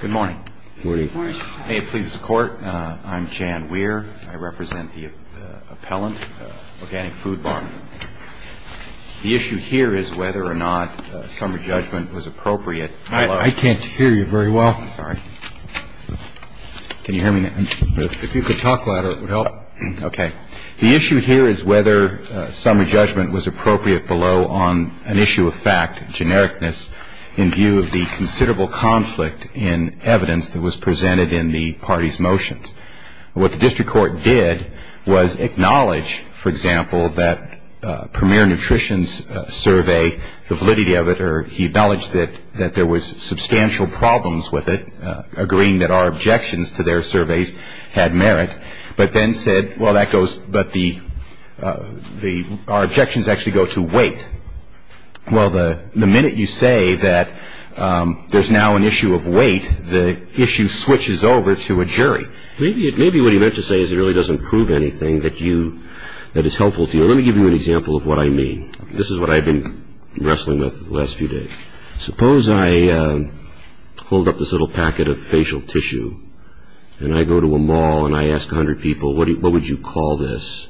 Good morning. Good morning. May it please the Court, I'm Jan Weir. I represent the appellant, Organic Food Bar. The issue here is whether or not summary judgment was appropriate. I can't hear you very well. Sorry. Can you hear me now? If you could talk louder, it would help. Okay. The issue here is whether summary judgment was appropriate below on an issue of fact, genericness, in view of the considerable conflict in evidence that was presented in the party's motions. What the district court did was acknowledge, for example, that Premier Nutrition's survey, the validity of it, or he acknowledged that there was substantial problems with it, agreeing that our objections to their surveys had merit, but then said, well, that goes, but our objections actually go to weight. Well, the minute you say that there's now an issue of weight, the issue switches over to a jury. Maybe what he meant to say is it really doesn't prove anything that is helpful to you. Let me give you an example of what I mean. This is what I've been wrestling with the last few days. Suppose I hold up this little packet of facial tissue and I go to a mall and I ask 100 people, what would you call this,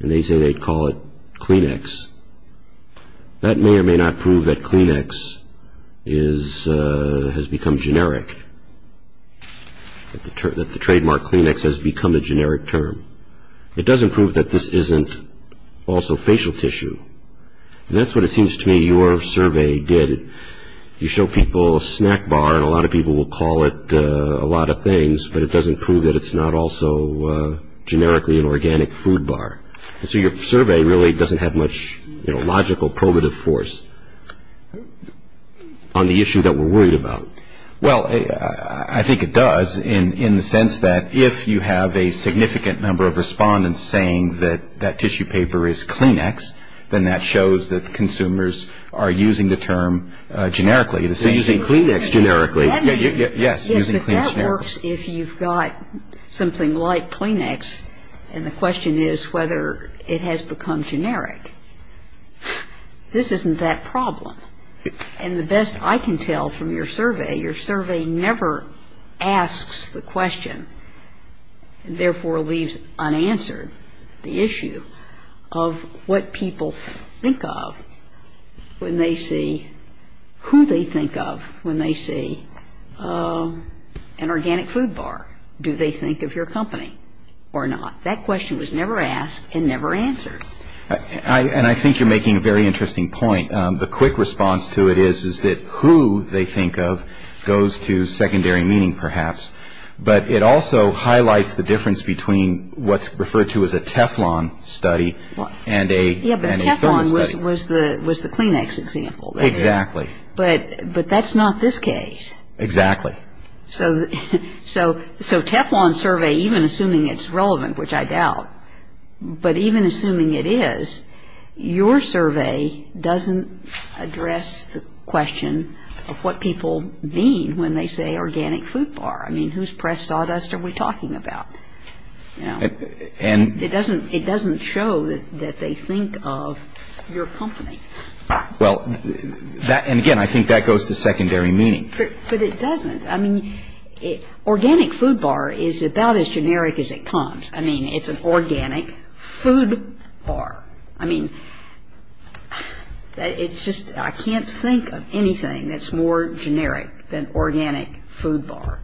and they say they'd call it Kleenex. That may or may not prove that Kleenex has become generic, that the trademark Kleenex has become a generic term. It doesn't prove that this isn't also facial tissue. And that's what it seems to me your survey did. You show people a snack bar and a lot of people will call it a lot of things, but it doesn't prove that it's not also generically an organic food bar. So your survey really doesn't have much logical probative force on the issue that we're worried about. Well, I think it does in the sense that if you have a significant number of respondents saying that that tissue paper is Kleenex, then that shows that consumers are using the term generically. They're using Kleenex generically. Yes, but that works if you've got something like Kleenex and the question is whether it has become generic. This isn't that problem. And the best I can tell from your survey, your survey never asks the question, therefore leaves unanswered the issue of what people think of when they see who they think of when they see an organic food bar. Do they think of your company or not? That question was never asked and never answered. And I think you're making a very interesting point. The quick response to it is, is that who they think of goes to secondary meaning perhaps. But it also highlights the difference between what's referred to as a Teflon study and a thermo study. Yes, but Teflon was the Kleenex example. Exactly. But that's not this case. Exactly. So Teflon survey, even assuming it's relevant, which I doubt, but even assuming it is, your survey doesn't address the question of what people mean when they say organic food bar. I mean, whose press sawdust are we talking about? It doesn't show that they think of your company. Well, and again, I think that goes to secondary meaning. But it doesn't. I mean, organic food bar is about as generic as it comes. I mean, it's an organic food bar. I mean, it's just I can't think of anything that's more generic than organic food bar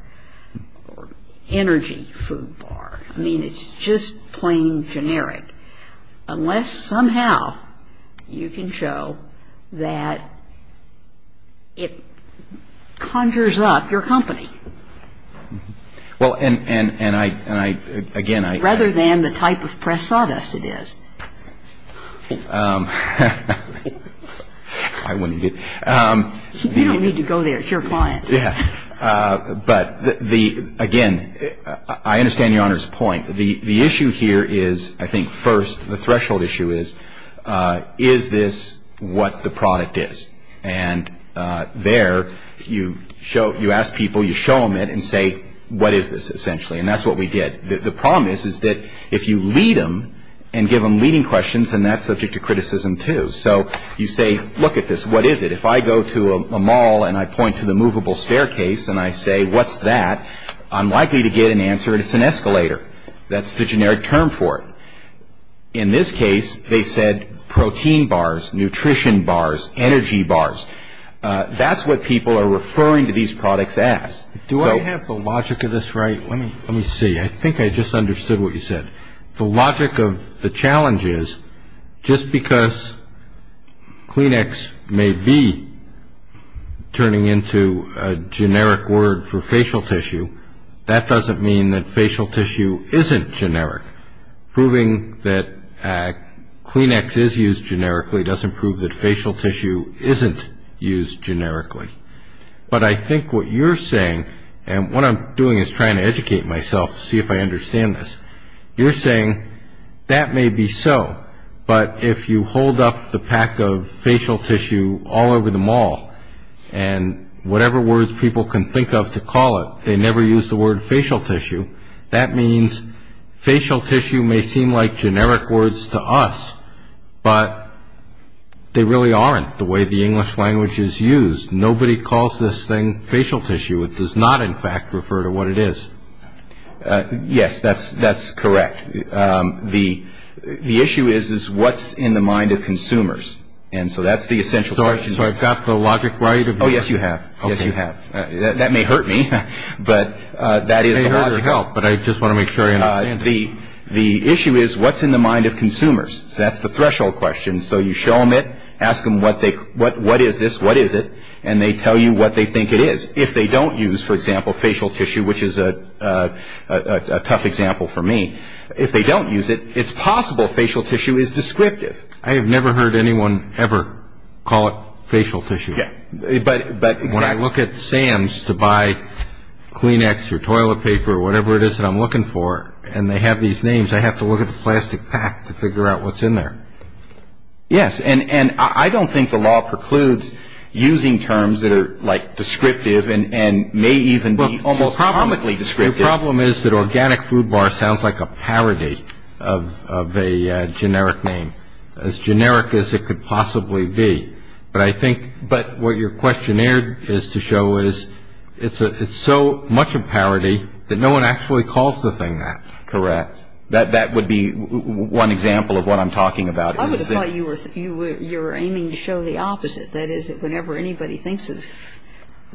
or energy food bar. I mean, it's just plain generic unless somehow you can show that it conjures up your company. Well, and I, again, I. Rather than the type of press sawdust it is. I wouldn't. You don't need to go there. It's your client. Yeah. But the, again, I understand Your Honor's point. The issue here is, I think, first, the threshold issue is, is this what the product is? And there you show, you ask people, you show them it and say, what is this, essentially? And that's what we did. The problem is, is that if you lead them and give them leading questions, then that's subject to criticism, too. So you say, look at this. What is it? If I go to a mall and I point to the movable staircase and I say, what's that? I'm likely to get an answer. It's an escalator. That's the generic term for it. In this case, they said protein bars, nutrition bars, energy bars. That's what people are referring to these products as. Do I have the logic of this right? Let me see. I think I just understood what you said. The logic of the challenge is, just because Kleenex may be turning into a generic word for facial tissue, that doesn't mean that facial tissue isn't generic. Proving that Kleenex is used generically doesn't prove that facial tissue isn't used generically. But I think what you're saying, and what I'm doing is trying to educate myself to see if I understand this. You're saying that may be so, but if you hold up the pack of facial tissue all over the mall and whatever words people can think of to call it, they never use the word facial tissue, that means facial tissue may seem like generic words to us, but they really aren't the way the English language is used. Nobody calls this thing facial tissue. It does not, in fact, refer to what it is. Yes, that's correct. The issue is what's in the mind of consumers. And so that's the essential question. So I've got the logic right? Oh, yes, you have. Yes, you have. That may hurt me, but that is the logic. It may hurt or help, but I just want to make sure I understand it. The issue is what's in the mind of consumers. That's the threshold question. So you show them it, ask them what is this, what is it, and they tell you what they think it is. If they don't use, for example, facial tissue, which is a tough example for me, if they don't use it, it's possible facial tissue is descriptive. I have never heard anyone ever call it facial tissue. When I look at Sam's to buy Kleenex or toilet paper or whatever it is that I'm looking for, and they have these names, I have to look at the plastic pack to figure out what's in there. Yes, and I don't think the law precludes using terms that are like descriptive and may even be almost comically descriptive. My problem is that organic food bar sounds like a parody of a generic name, as generic as it could possibly be. But I think what your questionnaire is to show is it's so much a parody that no one actually calls the thing that. Correct. That would be one example of what I'm talking about. I would have thought you were aiming to show the opposite, that is, whenever anybody thinks of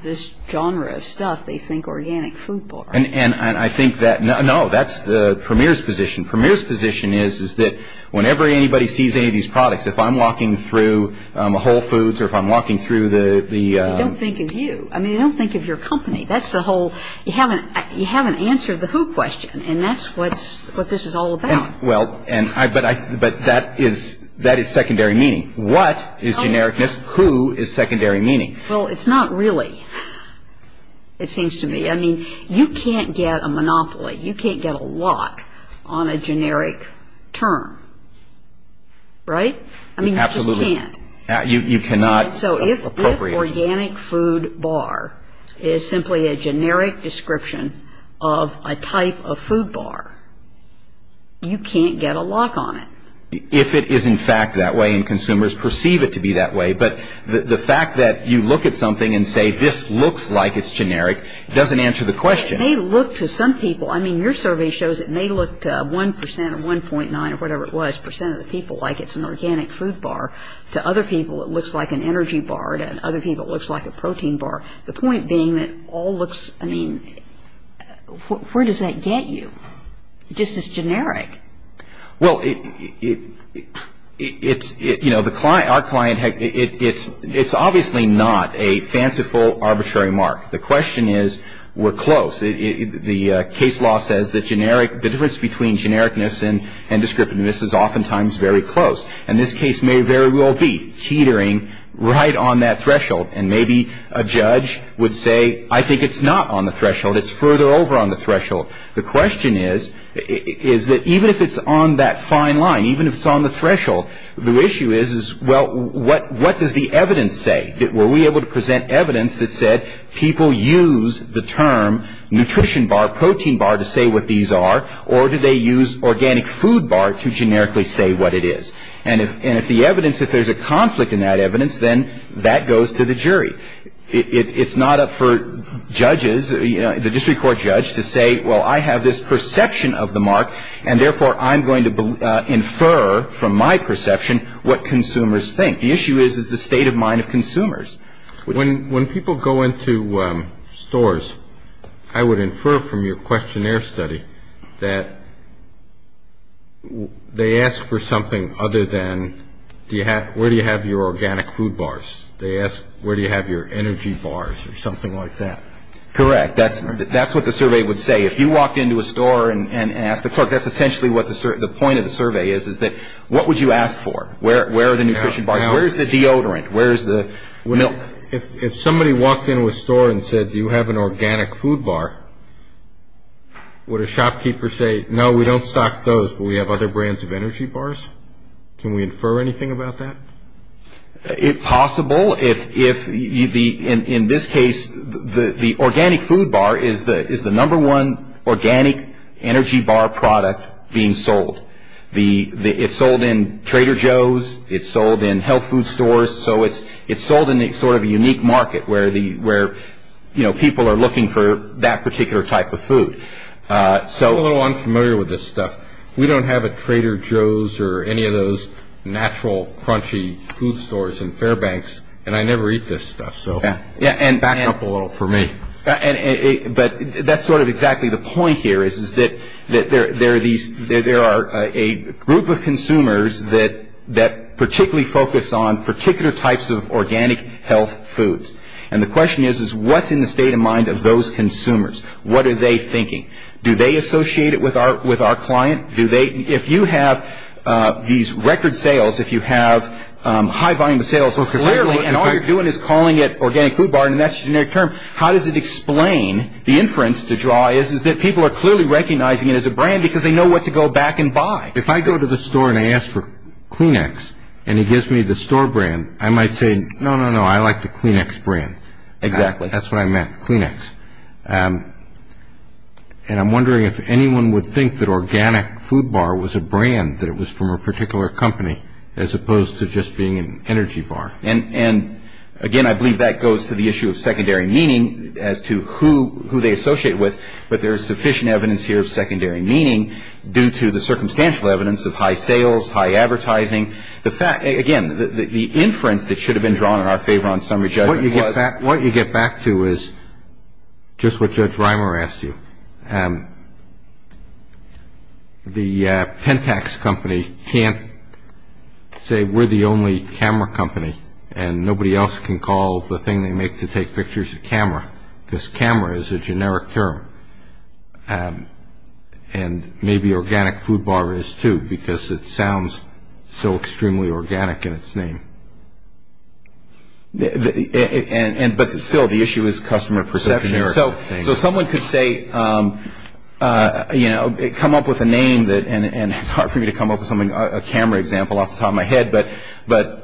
this genre of stuff, they think organic food bar. And I think that, no, that's the premier's position. Premier's position is that whenever anybody sees any of these products, if I'm walking through Whole Foods or if I'm walking through the- They don't think of you. I mean, they don't think of your company. That's the whole, you haven't answered the who question, and that's what this is all about. Well, but that is secondary meaning. What is genericness? Who is secondary meaning? Well, it's not really, it seems to me. I mean, you can't get a monopoly, you can't get a lock on a generic term, right? Absolutely. I mean, you just can't. You cannot appropriate. So if organic food bar is simply a generic description of a type of food bar, you can't get a lock on it. If it is in fact that way and consumers perceive it to be that way, but the fact that you look at something and say this looks like it's generic doesn't answer the question. It may look to some people, I mean, your survey shows it may look to 1% or 1.9 or whatever it was, percent of the people like it's an organic food bar. To other people, it looks like an energy bar. To other people, it looks like a protein bar. The point being that all looks, I mean, where does that get you? It just is generic. Well, it's, you know, our client, it's obviously not a fanciful arbitrary mark. The question is we're close. The case law says the difference between genericness and descriptiveness is oftentimes very close. And this case may very well be teetering right on that threshold and maybe a judge would say I think it's not on the threshold, it's further over on the threshold. The question is, is that even if it's on that fine line, even if it's on the threshold, the issue is, well, what does the evidence say? Were we able to present evidence that said people use the term nutrition bar, protein bar, to say what these are or do they use organic food bar to generically say what it is? And if the evidence, if there's a conflict in that evidence, then that goes to the jury. It's not up for judges, the district court judge, to say, well, I have this perception of the mark and therefore I'm going to infer from my perception what consumers think. The issue is the state of mind of consumers. When people go into stores, I would infer from your questionnaire study that they ask for something other than where do you have your organic food bars? They ask where do you have your energy bars or something like that. Correct. That's what the survey would say. If you walked into a store and asked the clerk, that's essentially what the point of the survey is, is that what would you ask for? Where are the nutrition bars? Where is the deodorant? Where is the milk? If somebody walked into a store and said do you have an organic food bar, would a shopkeeper say, no, we don't stock those, but we have other brands of energy bars? Can we infer anything about that? If possible. In this case, the organic food bar is the number one organic energy bar product being sold. It's sold in Trader Joe's. It's sold in health food stores. So it's sold in a sort of unique market where people are looking for that particular type of food. I'm a little unfamiliar with this stuff. We don't have a Trader Joe's or any of those natural crunchy food stores in Fairbanks, and I never eat this stuff, so back it up a little for me. But that's sort of exactly the point here is that there are a group of consumers that particularly focus on particular types of organic health foods. And the question is what's in the state of mind of those consumers? What are they thinking? Do they associate it with our client? If you have these record sales, if you have high volume of sales, and all you're doing is calling it organic food bar and that's your generic term, how does it explain the inference to draw is that people are clearly recognizing it as a brand because they know what to go back and buy. If I go to the store and I ask for Kleenex and he gives me the store brand, I might say, no, no, no, I like the Kleenex brand. Exactly. That's what I meant, Kleenex. And I'm wondering if anyone would think that organic food bar was a brand, that it was from a particular company, as opposed to just being an energy bar. And, again, I believe that goes to the issue of secondary meaning as to who they associate with, but there is sufficient evidence here of secondary meaning due to the circumstantial evidence of high sales, high advertising. Again, the inference that should have been drawn in our favor on summary judgment was. What you get back to is just what Judge Reimer asked you. The Pentax company can't say we're the only camera company and nobody else can call the thing they make to take pictures a camera, because camera is a generic term and maybe organic food bar is too because it sounds so extremely organic in its name. But still, the issue is customer perception. So someone could say, you know, come up with a name, and it's hard for me to come up with a camera example off the top of my head, but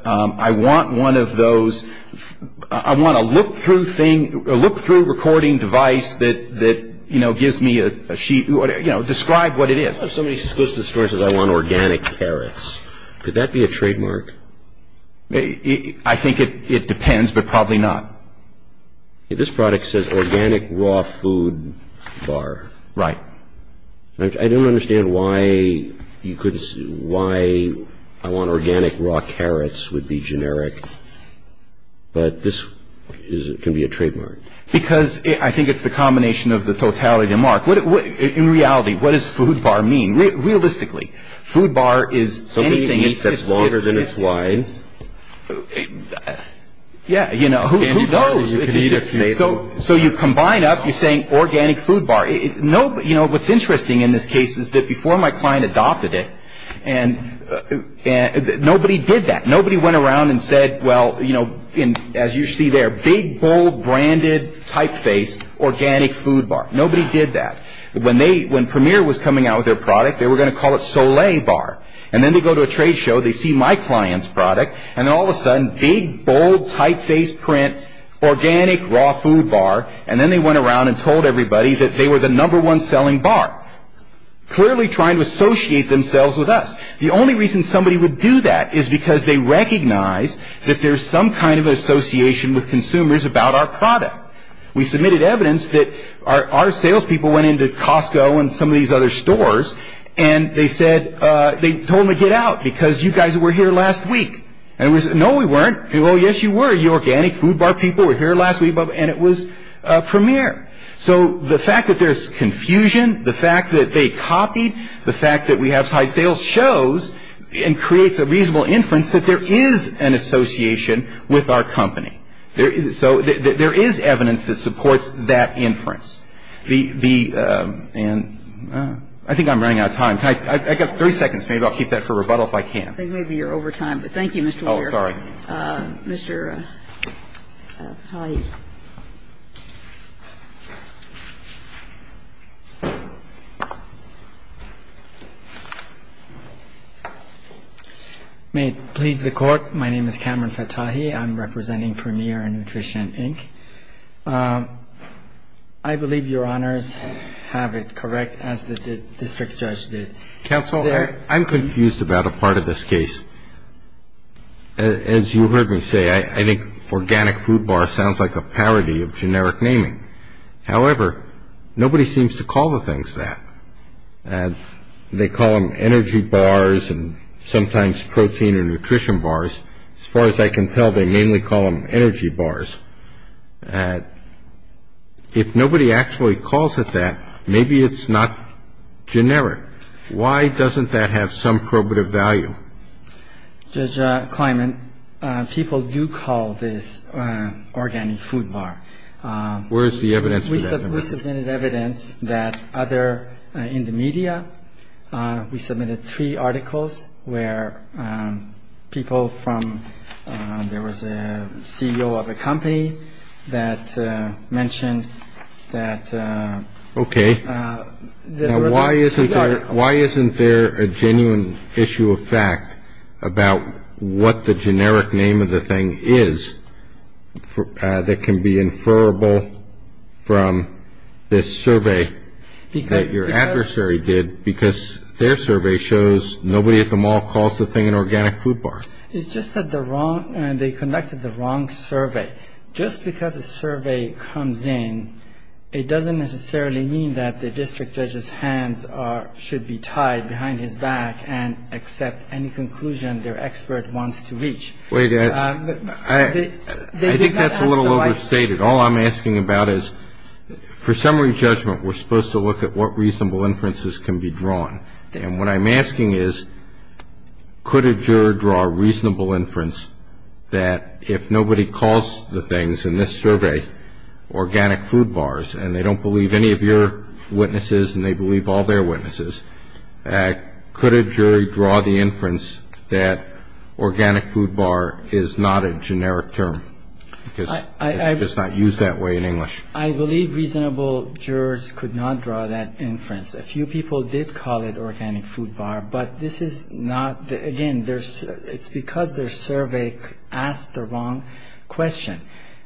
I want one of those, I want a look-through thing, a look-through recording device that, you know, gives me a sheet, you know, describe what it is. If somebody goes to the store and says, I want organic carrots, could that be a trademark? I think it depends, but probably not. This product says organic raw food bar. Right. I don't understand why you could, why I want organic raw carrots would be generic, but this can be a trademark. Because I think it's the combination of the totality of the mark. In reality, what does food bar mean? Realistically, food bar is anything. So maybe it's longer than it's wide? Yeah, you know, who knows? So you combine up, you're saying organic food bar. You know, what's interesting in this case is that before my client adopted it, nobody did that. Nobody went around and said, well, you know, as you see there, big, bold, branded, typeface, organic food bar. Nobody did that. When they, when Premier was coming out with their product, they were going to call it Soleil bar. And then they go to a trade show, they see my client's product, and then all of a sudden, big, bold, typeface print, organic raw food bar. And then they went around and told everybody that they were the number one selling bar. Clearly trying to associate themselves with us. The only reason somebody would do that is because they recognize that there's some kind of association with consumers about our product. We submitted evidence that our salespeople went into Costco and some of these other stores, and they said, they told them to get out because you guys were here last week. And we said, no, we weren't. Oh, yes, you were. You organic food bar people were here last week, and it was Premier. So the fact that there's confusion, the fact that they copied, the fact that we have high sales shows and creates a reasonable inference that there is an association with our company. So there is evidence that supports that inference. The and I think I'm running out of time. I've got three seconds. Maybe I'll keep that for rebuttal if I can. Maybe you're over time, but thank you, Mr. Weir. Oh, sorry. Mr. Fattahi. May it please the Court. My name is Cameron Fattahi. I'm representing Premier Nutrition, Inc. I believe Your Honors have it correct as the district judge did. Counsel, I'm confused about a part of this case. As you heard me say, I think organic food bar sounds like a parody of generic naming. However, nobody seems to call the things that. They call them energy bars and sometimes protein or nutrition bars. As far as I can tell, they mainly call them energy bars. If nobody actually calls it that, maybe it's not generic. Why doesn't that have some probative value? Judge Kleinman, people do call this organic food bar. Where is the evidence for that? We submitted evidence that other in the media. We submitted three articles where people from there was a CEO of a company that mentioned that. OK. Why isn't there a genuine issue of fact about what the generic name of the thing is that can be inferable from this survey? Your adversary did because their survey shows nobody at the mall calls the thing an organic food bar. It's just that they conducted the wrong survey. Just because a survey comes in, it doesn't necessarily mean that the district judge's hands should be tied behind his back and accept any conclusion their expert wants to reach. I think that's a little overstated. All I'm asking about is for summary judgment, we're supposed to look at what reasonable inferences can be drawn. And what I'm asking is, could a jury draw a reasonable inference that if nobody calls the things in this survey organic food bars, and they don't believe any of your witnesses and they believe all their witnesses, could a jury draw the inference that organic food bar is not a generic term? Because it's just not used that way in English. I believe reasonable jurors could not draw that inference. A few people did call it organic food bar, but this is not. Again, it's because their survey asked the wrong question.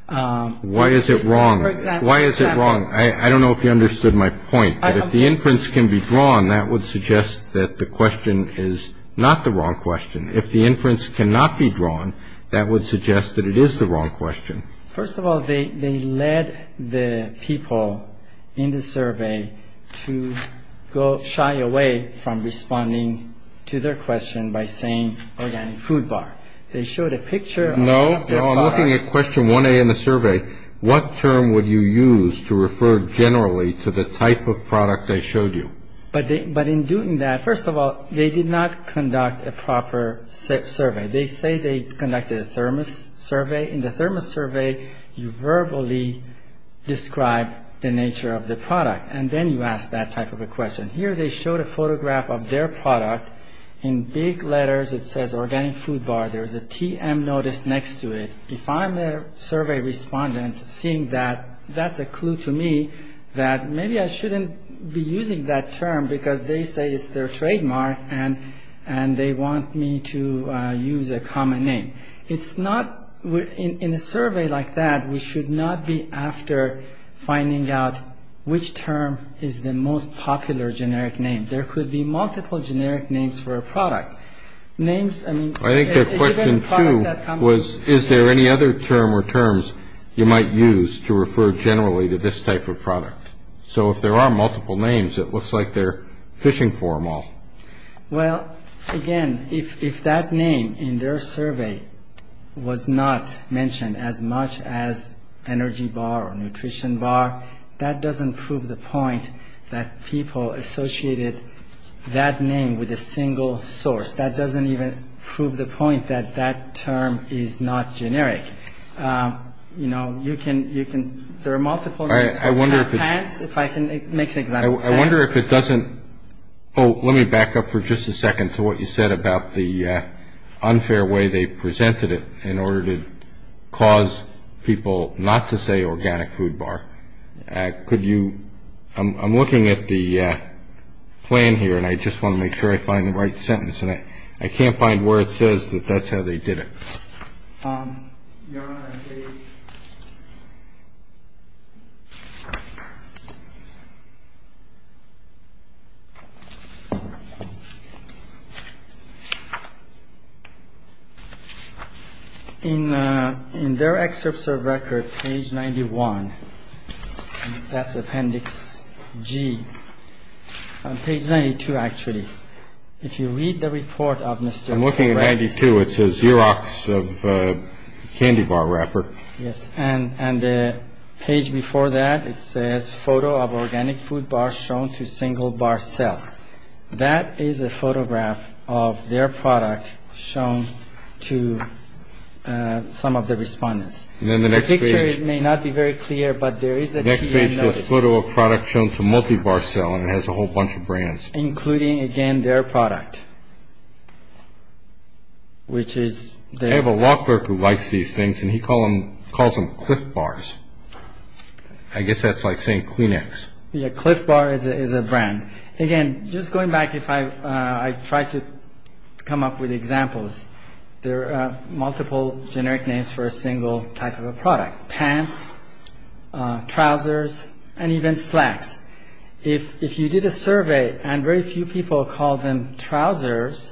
Why is it wrong? Why is it wrong? I don't know if you understood my point. But if the inference can be drawn, that would suggest that the question is not the wrong question. If the inference cannot be drawn, that would suggest that it is the wrong question. First of all, they led the people in the survey to go shy away from responding to their question by saying organic food bar. They showed a picture of their products. No, I'm looking at question 1A in the survey. What term would you use to refer generally to the type of product they showed you? But in doing that, first of all, they did not conduct a proper survey. They say they conducted a thermos survey. In the thermos survey, you verbally describe the nature of the product. And then you ask that type of a question. Here they showed a photograph of their product. In big letters it says organic food bar. There's a TM notice next to it. If I'm a survey respondent seeing that, that's a clue to me that maybe I shouldn't be using that term because they say it's their trademark. And they want me to use a common name. It's not in a survey like that. We should not be after finding out which term is the most popular generic name. There could be multiple generic names for a product names. I think their question 2 was is there any other term or terms you might use to refer generally to this type of product? So if there are multiple names, it looks like they're fishing for them all. Well, again, if that name in their survey was not mentioned as much as energy bar or nutrition bar, that doesn't prove the point that people associated that name with a single source. That doesn't even prove the point that that term is not generic. You know, you can you can there are multiple. I wonder if I can make things. I wonder if it doesn't. Oh, let me back up for just a second to what you said about the unfair way they presented it in order to cause people not to say organic food bar. Could you I'm looking at the plan here and I just want to make sure I find the right sentence. And I can't find where it says that that's how they did it. Yeah. In their excerpts of record page 91. That's appendix G page 92. Actually, if you read the report of Mr. I'm looking at 92. It says Xerox of candy bar wrapper. And the page before that, it says photo of organic food bar shown to single bar self. That is a photograph of their product shown to some of the respondents. And then the next picture, it may not be very clear, but there is a photo of product shown to multi bar selling. It has a whole bunch of brands, including, again, their product. Which is they have a law clerk who likes these things and he call them call them cliff bars. I guess that's like saying Kleenex. Cliff bar is a brand. Again, just going back, if I try to come up with examples, there are multiple generic names for a single type of a product. Pants, trousers and even slacks. If if you did a survey and very few people call them trousers,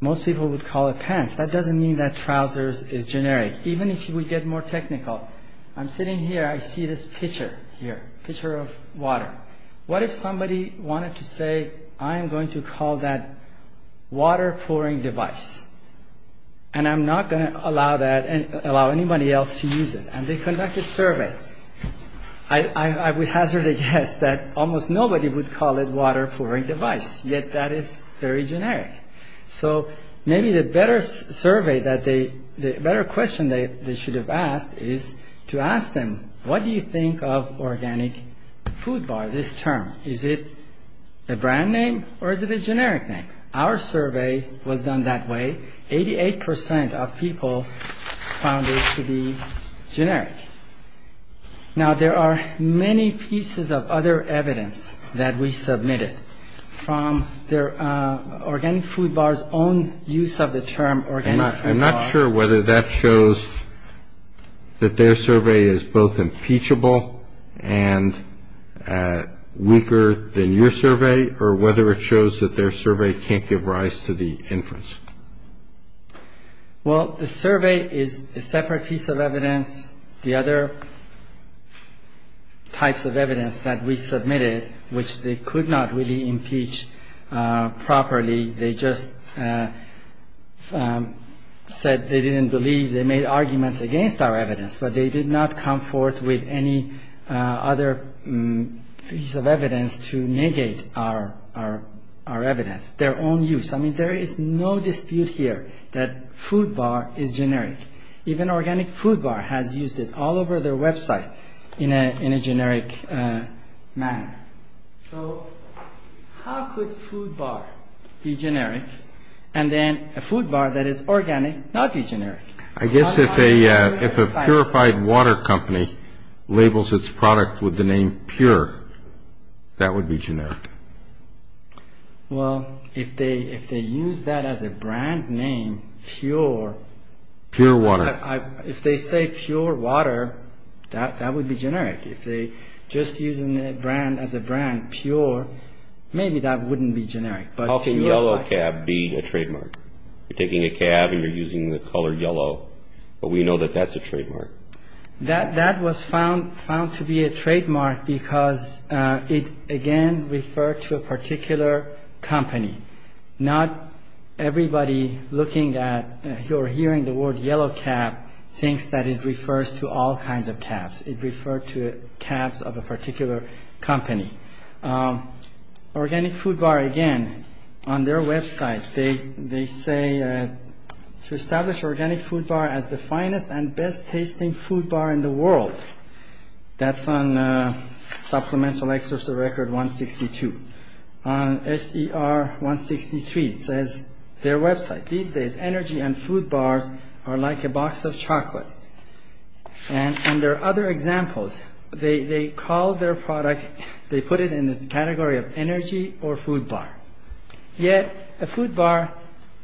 most people would call it pants. That doesn't mean that trousers is generic. Even if you would get more technical. I'm sitting here. I see this picture here. Picture of water. What if somebody wanted to say, I am going to call that water pouring device. And I'm not going to allow that and allow anybody else to use it. And they conduct a survey. I would hazard a guess that almost nobody would call it water pouring device. Yet that is very generic. So maybe the better survey that they the better question they should have asked is to ask them. What do you think of organic food bar? This term. Is it a brand name or is it a generic name? Our survey was done that way. Eighty eight percent of people found it to be generic. Now there are many pieces of other evidence that we submitted from their organic food bars. Own use of the term organic. I'm not sure whether that shows that their survey is both impeachable and weaker than your survey, or whether it shows that their survey can't give rise to the inference. Well, the survey is a separate piece of evidence. The other types of evidence that we submitted, which they could not really impeach properly. They just said they didn't believe they made arguments against our evidence, but they did not come forth with any other piece of evidence to negate our evidence. Their own use. I mean, there is no dispute here that food bar is generic. Even organic food bar has used it all over their website in a generic manner. So how could food bar be generic and then a food bar that is organic not be generic? I guess if a purified water company labels its product with the name pure, that would be generic. Well, if they use that as a brand name, pure. Pure water. If they say pure water, that would be generic. If they just use the brand as a brand, pure, maybe that wouldn't be generic. How can yellow cab be a trademark? You're taking a cab and you're using the color yellow, but we know that that's a trademark. That was found to be a trademark because it, again, referred to a particular company. Not everybody looking at or hearing the word yellow cab thinks that it refers to all kinds of cabs. It referred to cabs of a particular company. Organic food bar, again, on their website, they say to establish organic food bar as the finest and best tasting food bar in the world. That's on Supplemental Excerpts of Record 162. On SER 163, it says, their website, these days energy and food bars are like a box of chocolate. And there are other examples. They call their product, they put it in the category of energy or food bar. Yet a food bar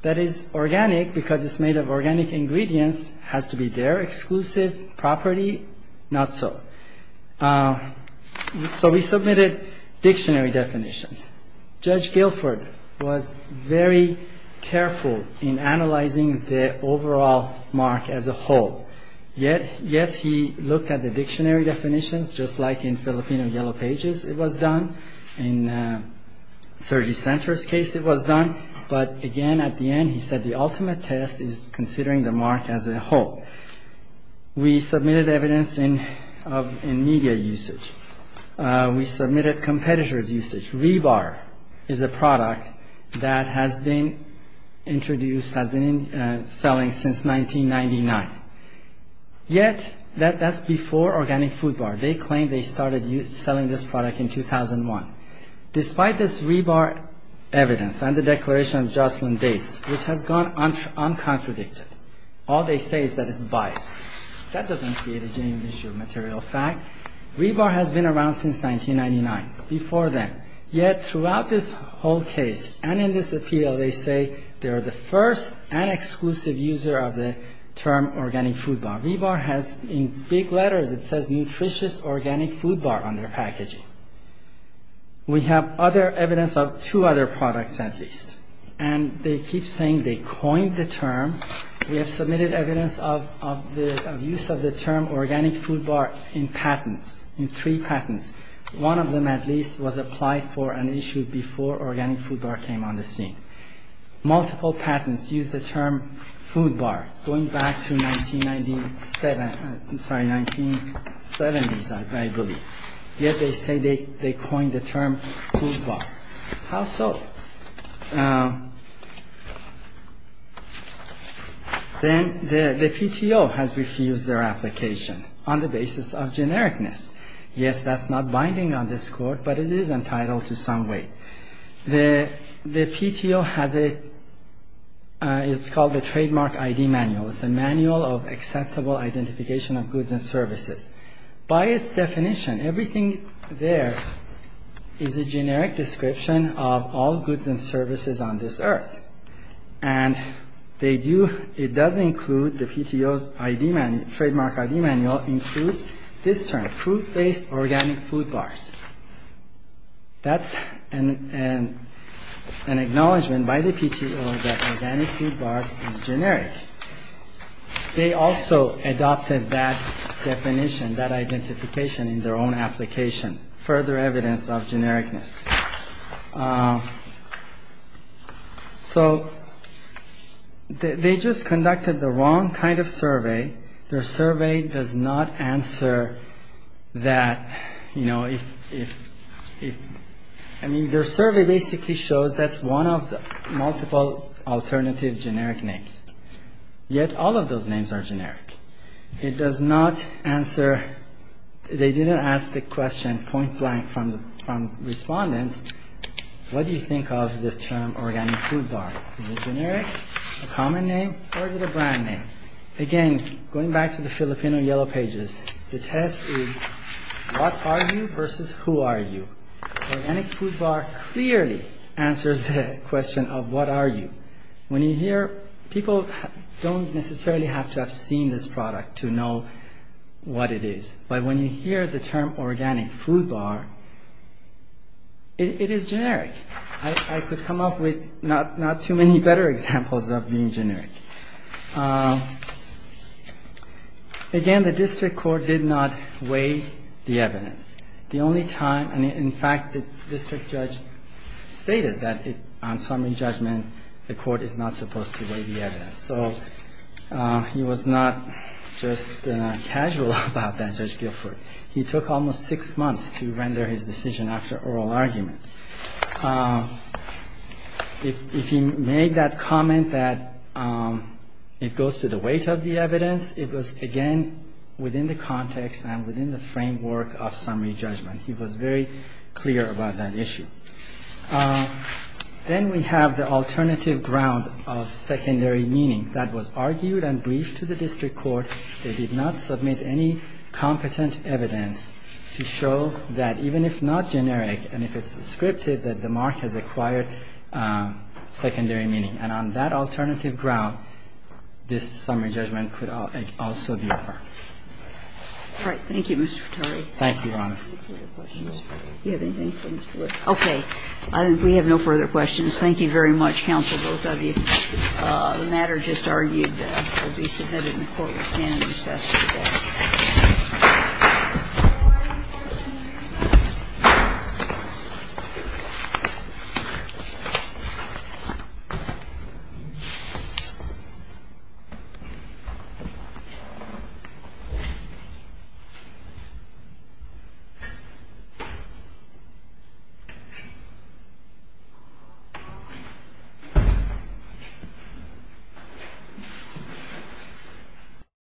that is organic because it's made of organic ingredients has to be their exclusive property? Not so. So we submitted dictionary definitions. Judge Guilford was very careful in analyzing the overall mark as a whole. Yes, he looked at the dictionary definitions, just like in Filipino Yellow Pages it was done. In Sergei Sentra's case it was done. But, again, at the end he said the ultimate test is considering the mark as a whole. We submitted evidence in media usage. We submitted competitor's usage. Rebar is a product that has been introduced, has been selling since 1999. Yet that's before organic food bar. They claim they started selling this product in 2001. Despite this rebar evidence and the declaration of Jocelyn Bates, which has gone uncontradicted, all they say is that it's biased. That doesn't create a genuine issue of material fact. Rebar has been around since 1999, before then. Yet throughout this whole case and in this appeal they say they are the first and exclusive user of the term organic food bar. Rebar has in big letters it says nutritious organic food bar on their packaging. We have other evidence of two other products at least. And they keep saying they coined the term. We have submitted evidence of the use of the term organic food bar in patents, in three patents. One of them at least was applied for and issued before organic food bar came on the scene. Multiple patents used the term food bar going back to 1997, sorry, 1970s I believe. Yet they say they coined the term food bar. How so? Then the PTO has refused their application on the basis of genericness. Yes, that's not binding on this Court, but it is entitled to some weight. The PTO has a, it's called the Trademark ID Manual. It's a manual of acceptable identification of goods and services. By its definition, everything there is a generic description of all goods and services on this earth. And they do, it does include, the PTO's ID Manual, Trademark ID Manual includes this term, food-based organic food bars. That's an acknowledgement by the PTO that organic food bars is generic. They also adopted that definition, that identification in their own application. Further evidence of genericness. So they just conducted the wrong kind of survey. Their survey does not answer that, you know, if, if, if, I mean, their survey basically shows that's one of the multiple alternative generic names. Yet all of those names are generic. It does not answer, they didn't ask the question point blank from, from respondents, what do you think of this term organic food bar? Is it generic? A common name? Or is it a brand name? Again, going back to the Filipino Yellow Pages, the test is what are you versus who are you? Organic food bar clearly answers the question of what are you. When you hear, people don't necessarily have to have seen this product to know what it is. But when you hear the term organic food bar, it is generic. I could come up with not, not too many better examples of being generic. Again, the district court did not weigh the evidence. The only time, and in fact, the district judge stated that on summary judgment, the court is not supposed to weigh the evidence. So he was not just casual about that, Judge Guilford. He took almost six months to render his decision after oral argument. If he made that comment that it goes to the weight of the evidence, it was, again, within the context and within the framework of summary judgment. He was very clear about that issue. Then we have the alternative ground of secondary meaning. That was argued and briefed to the district court. They did not submit any competent evidence to show that even if not generic and if it's descriptive, that the mark has acquired secondary meaning. And on that alternative ground, this summary judgment could also be acquired. All right. Thank you, Mr. Frattari. Thank you, Your Honor. Do you have any further questions? No. Do you have anything for Mr. Blatt? Okay. I think we have no further questions. Thank you very much, counsel, both of you. The matter just argued will be submitted in the Court of Appearance. I'm just asking for that. Thank you.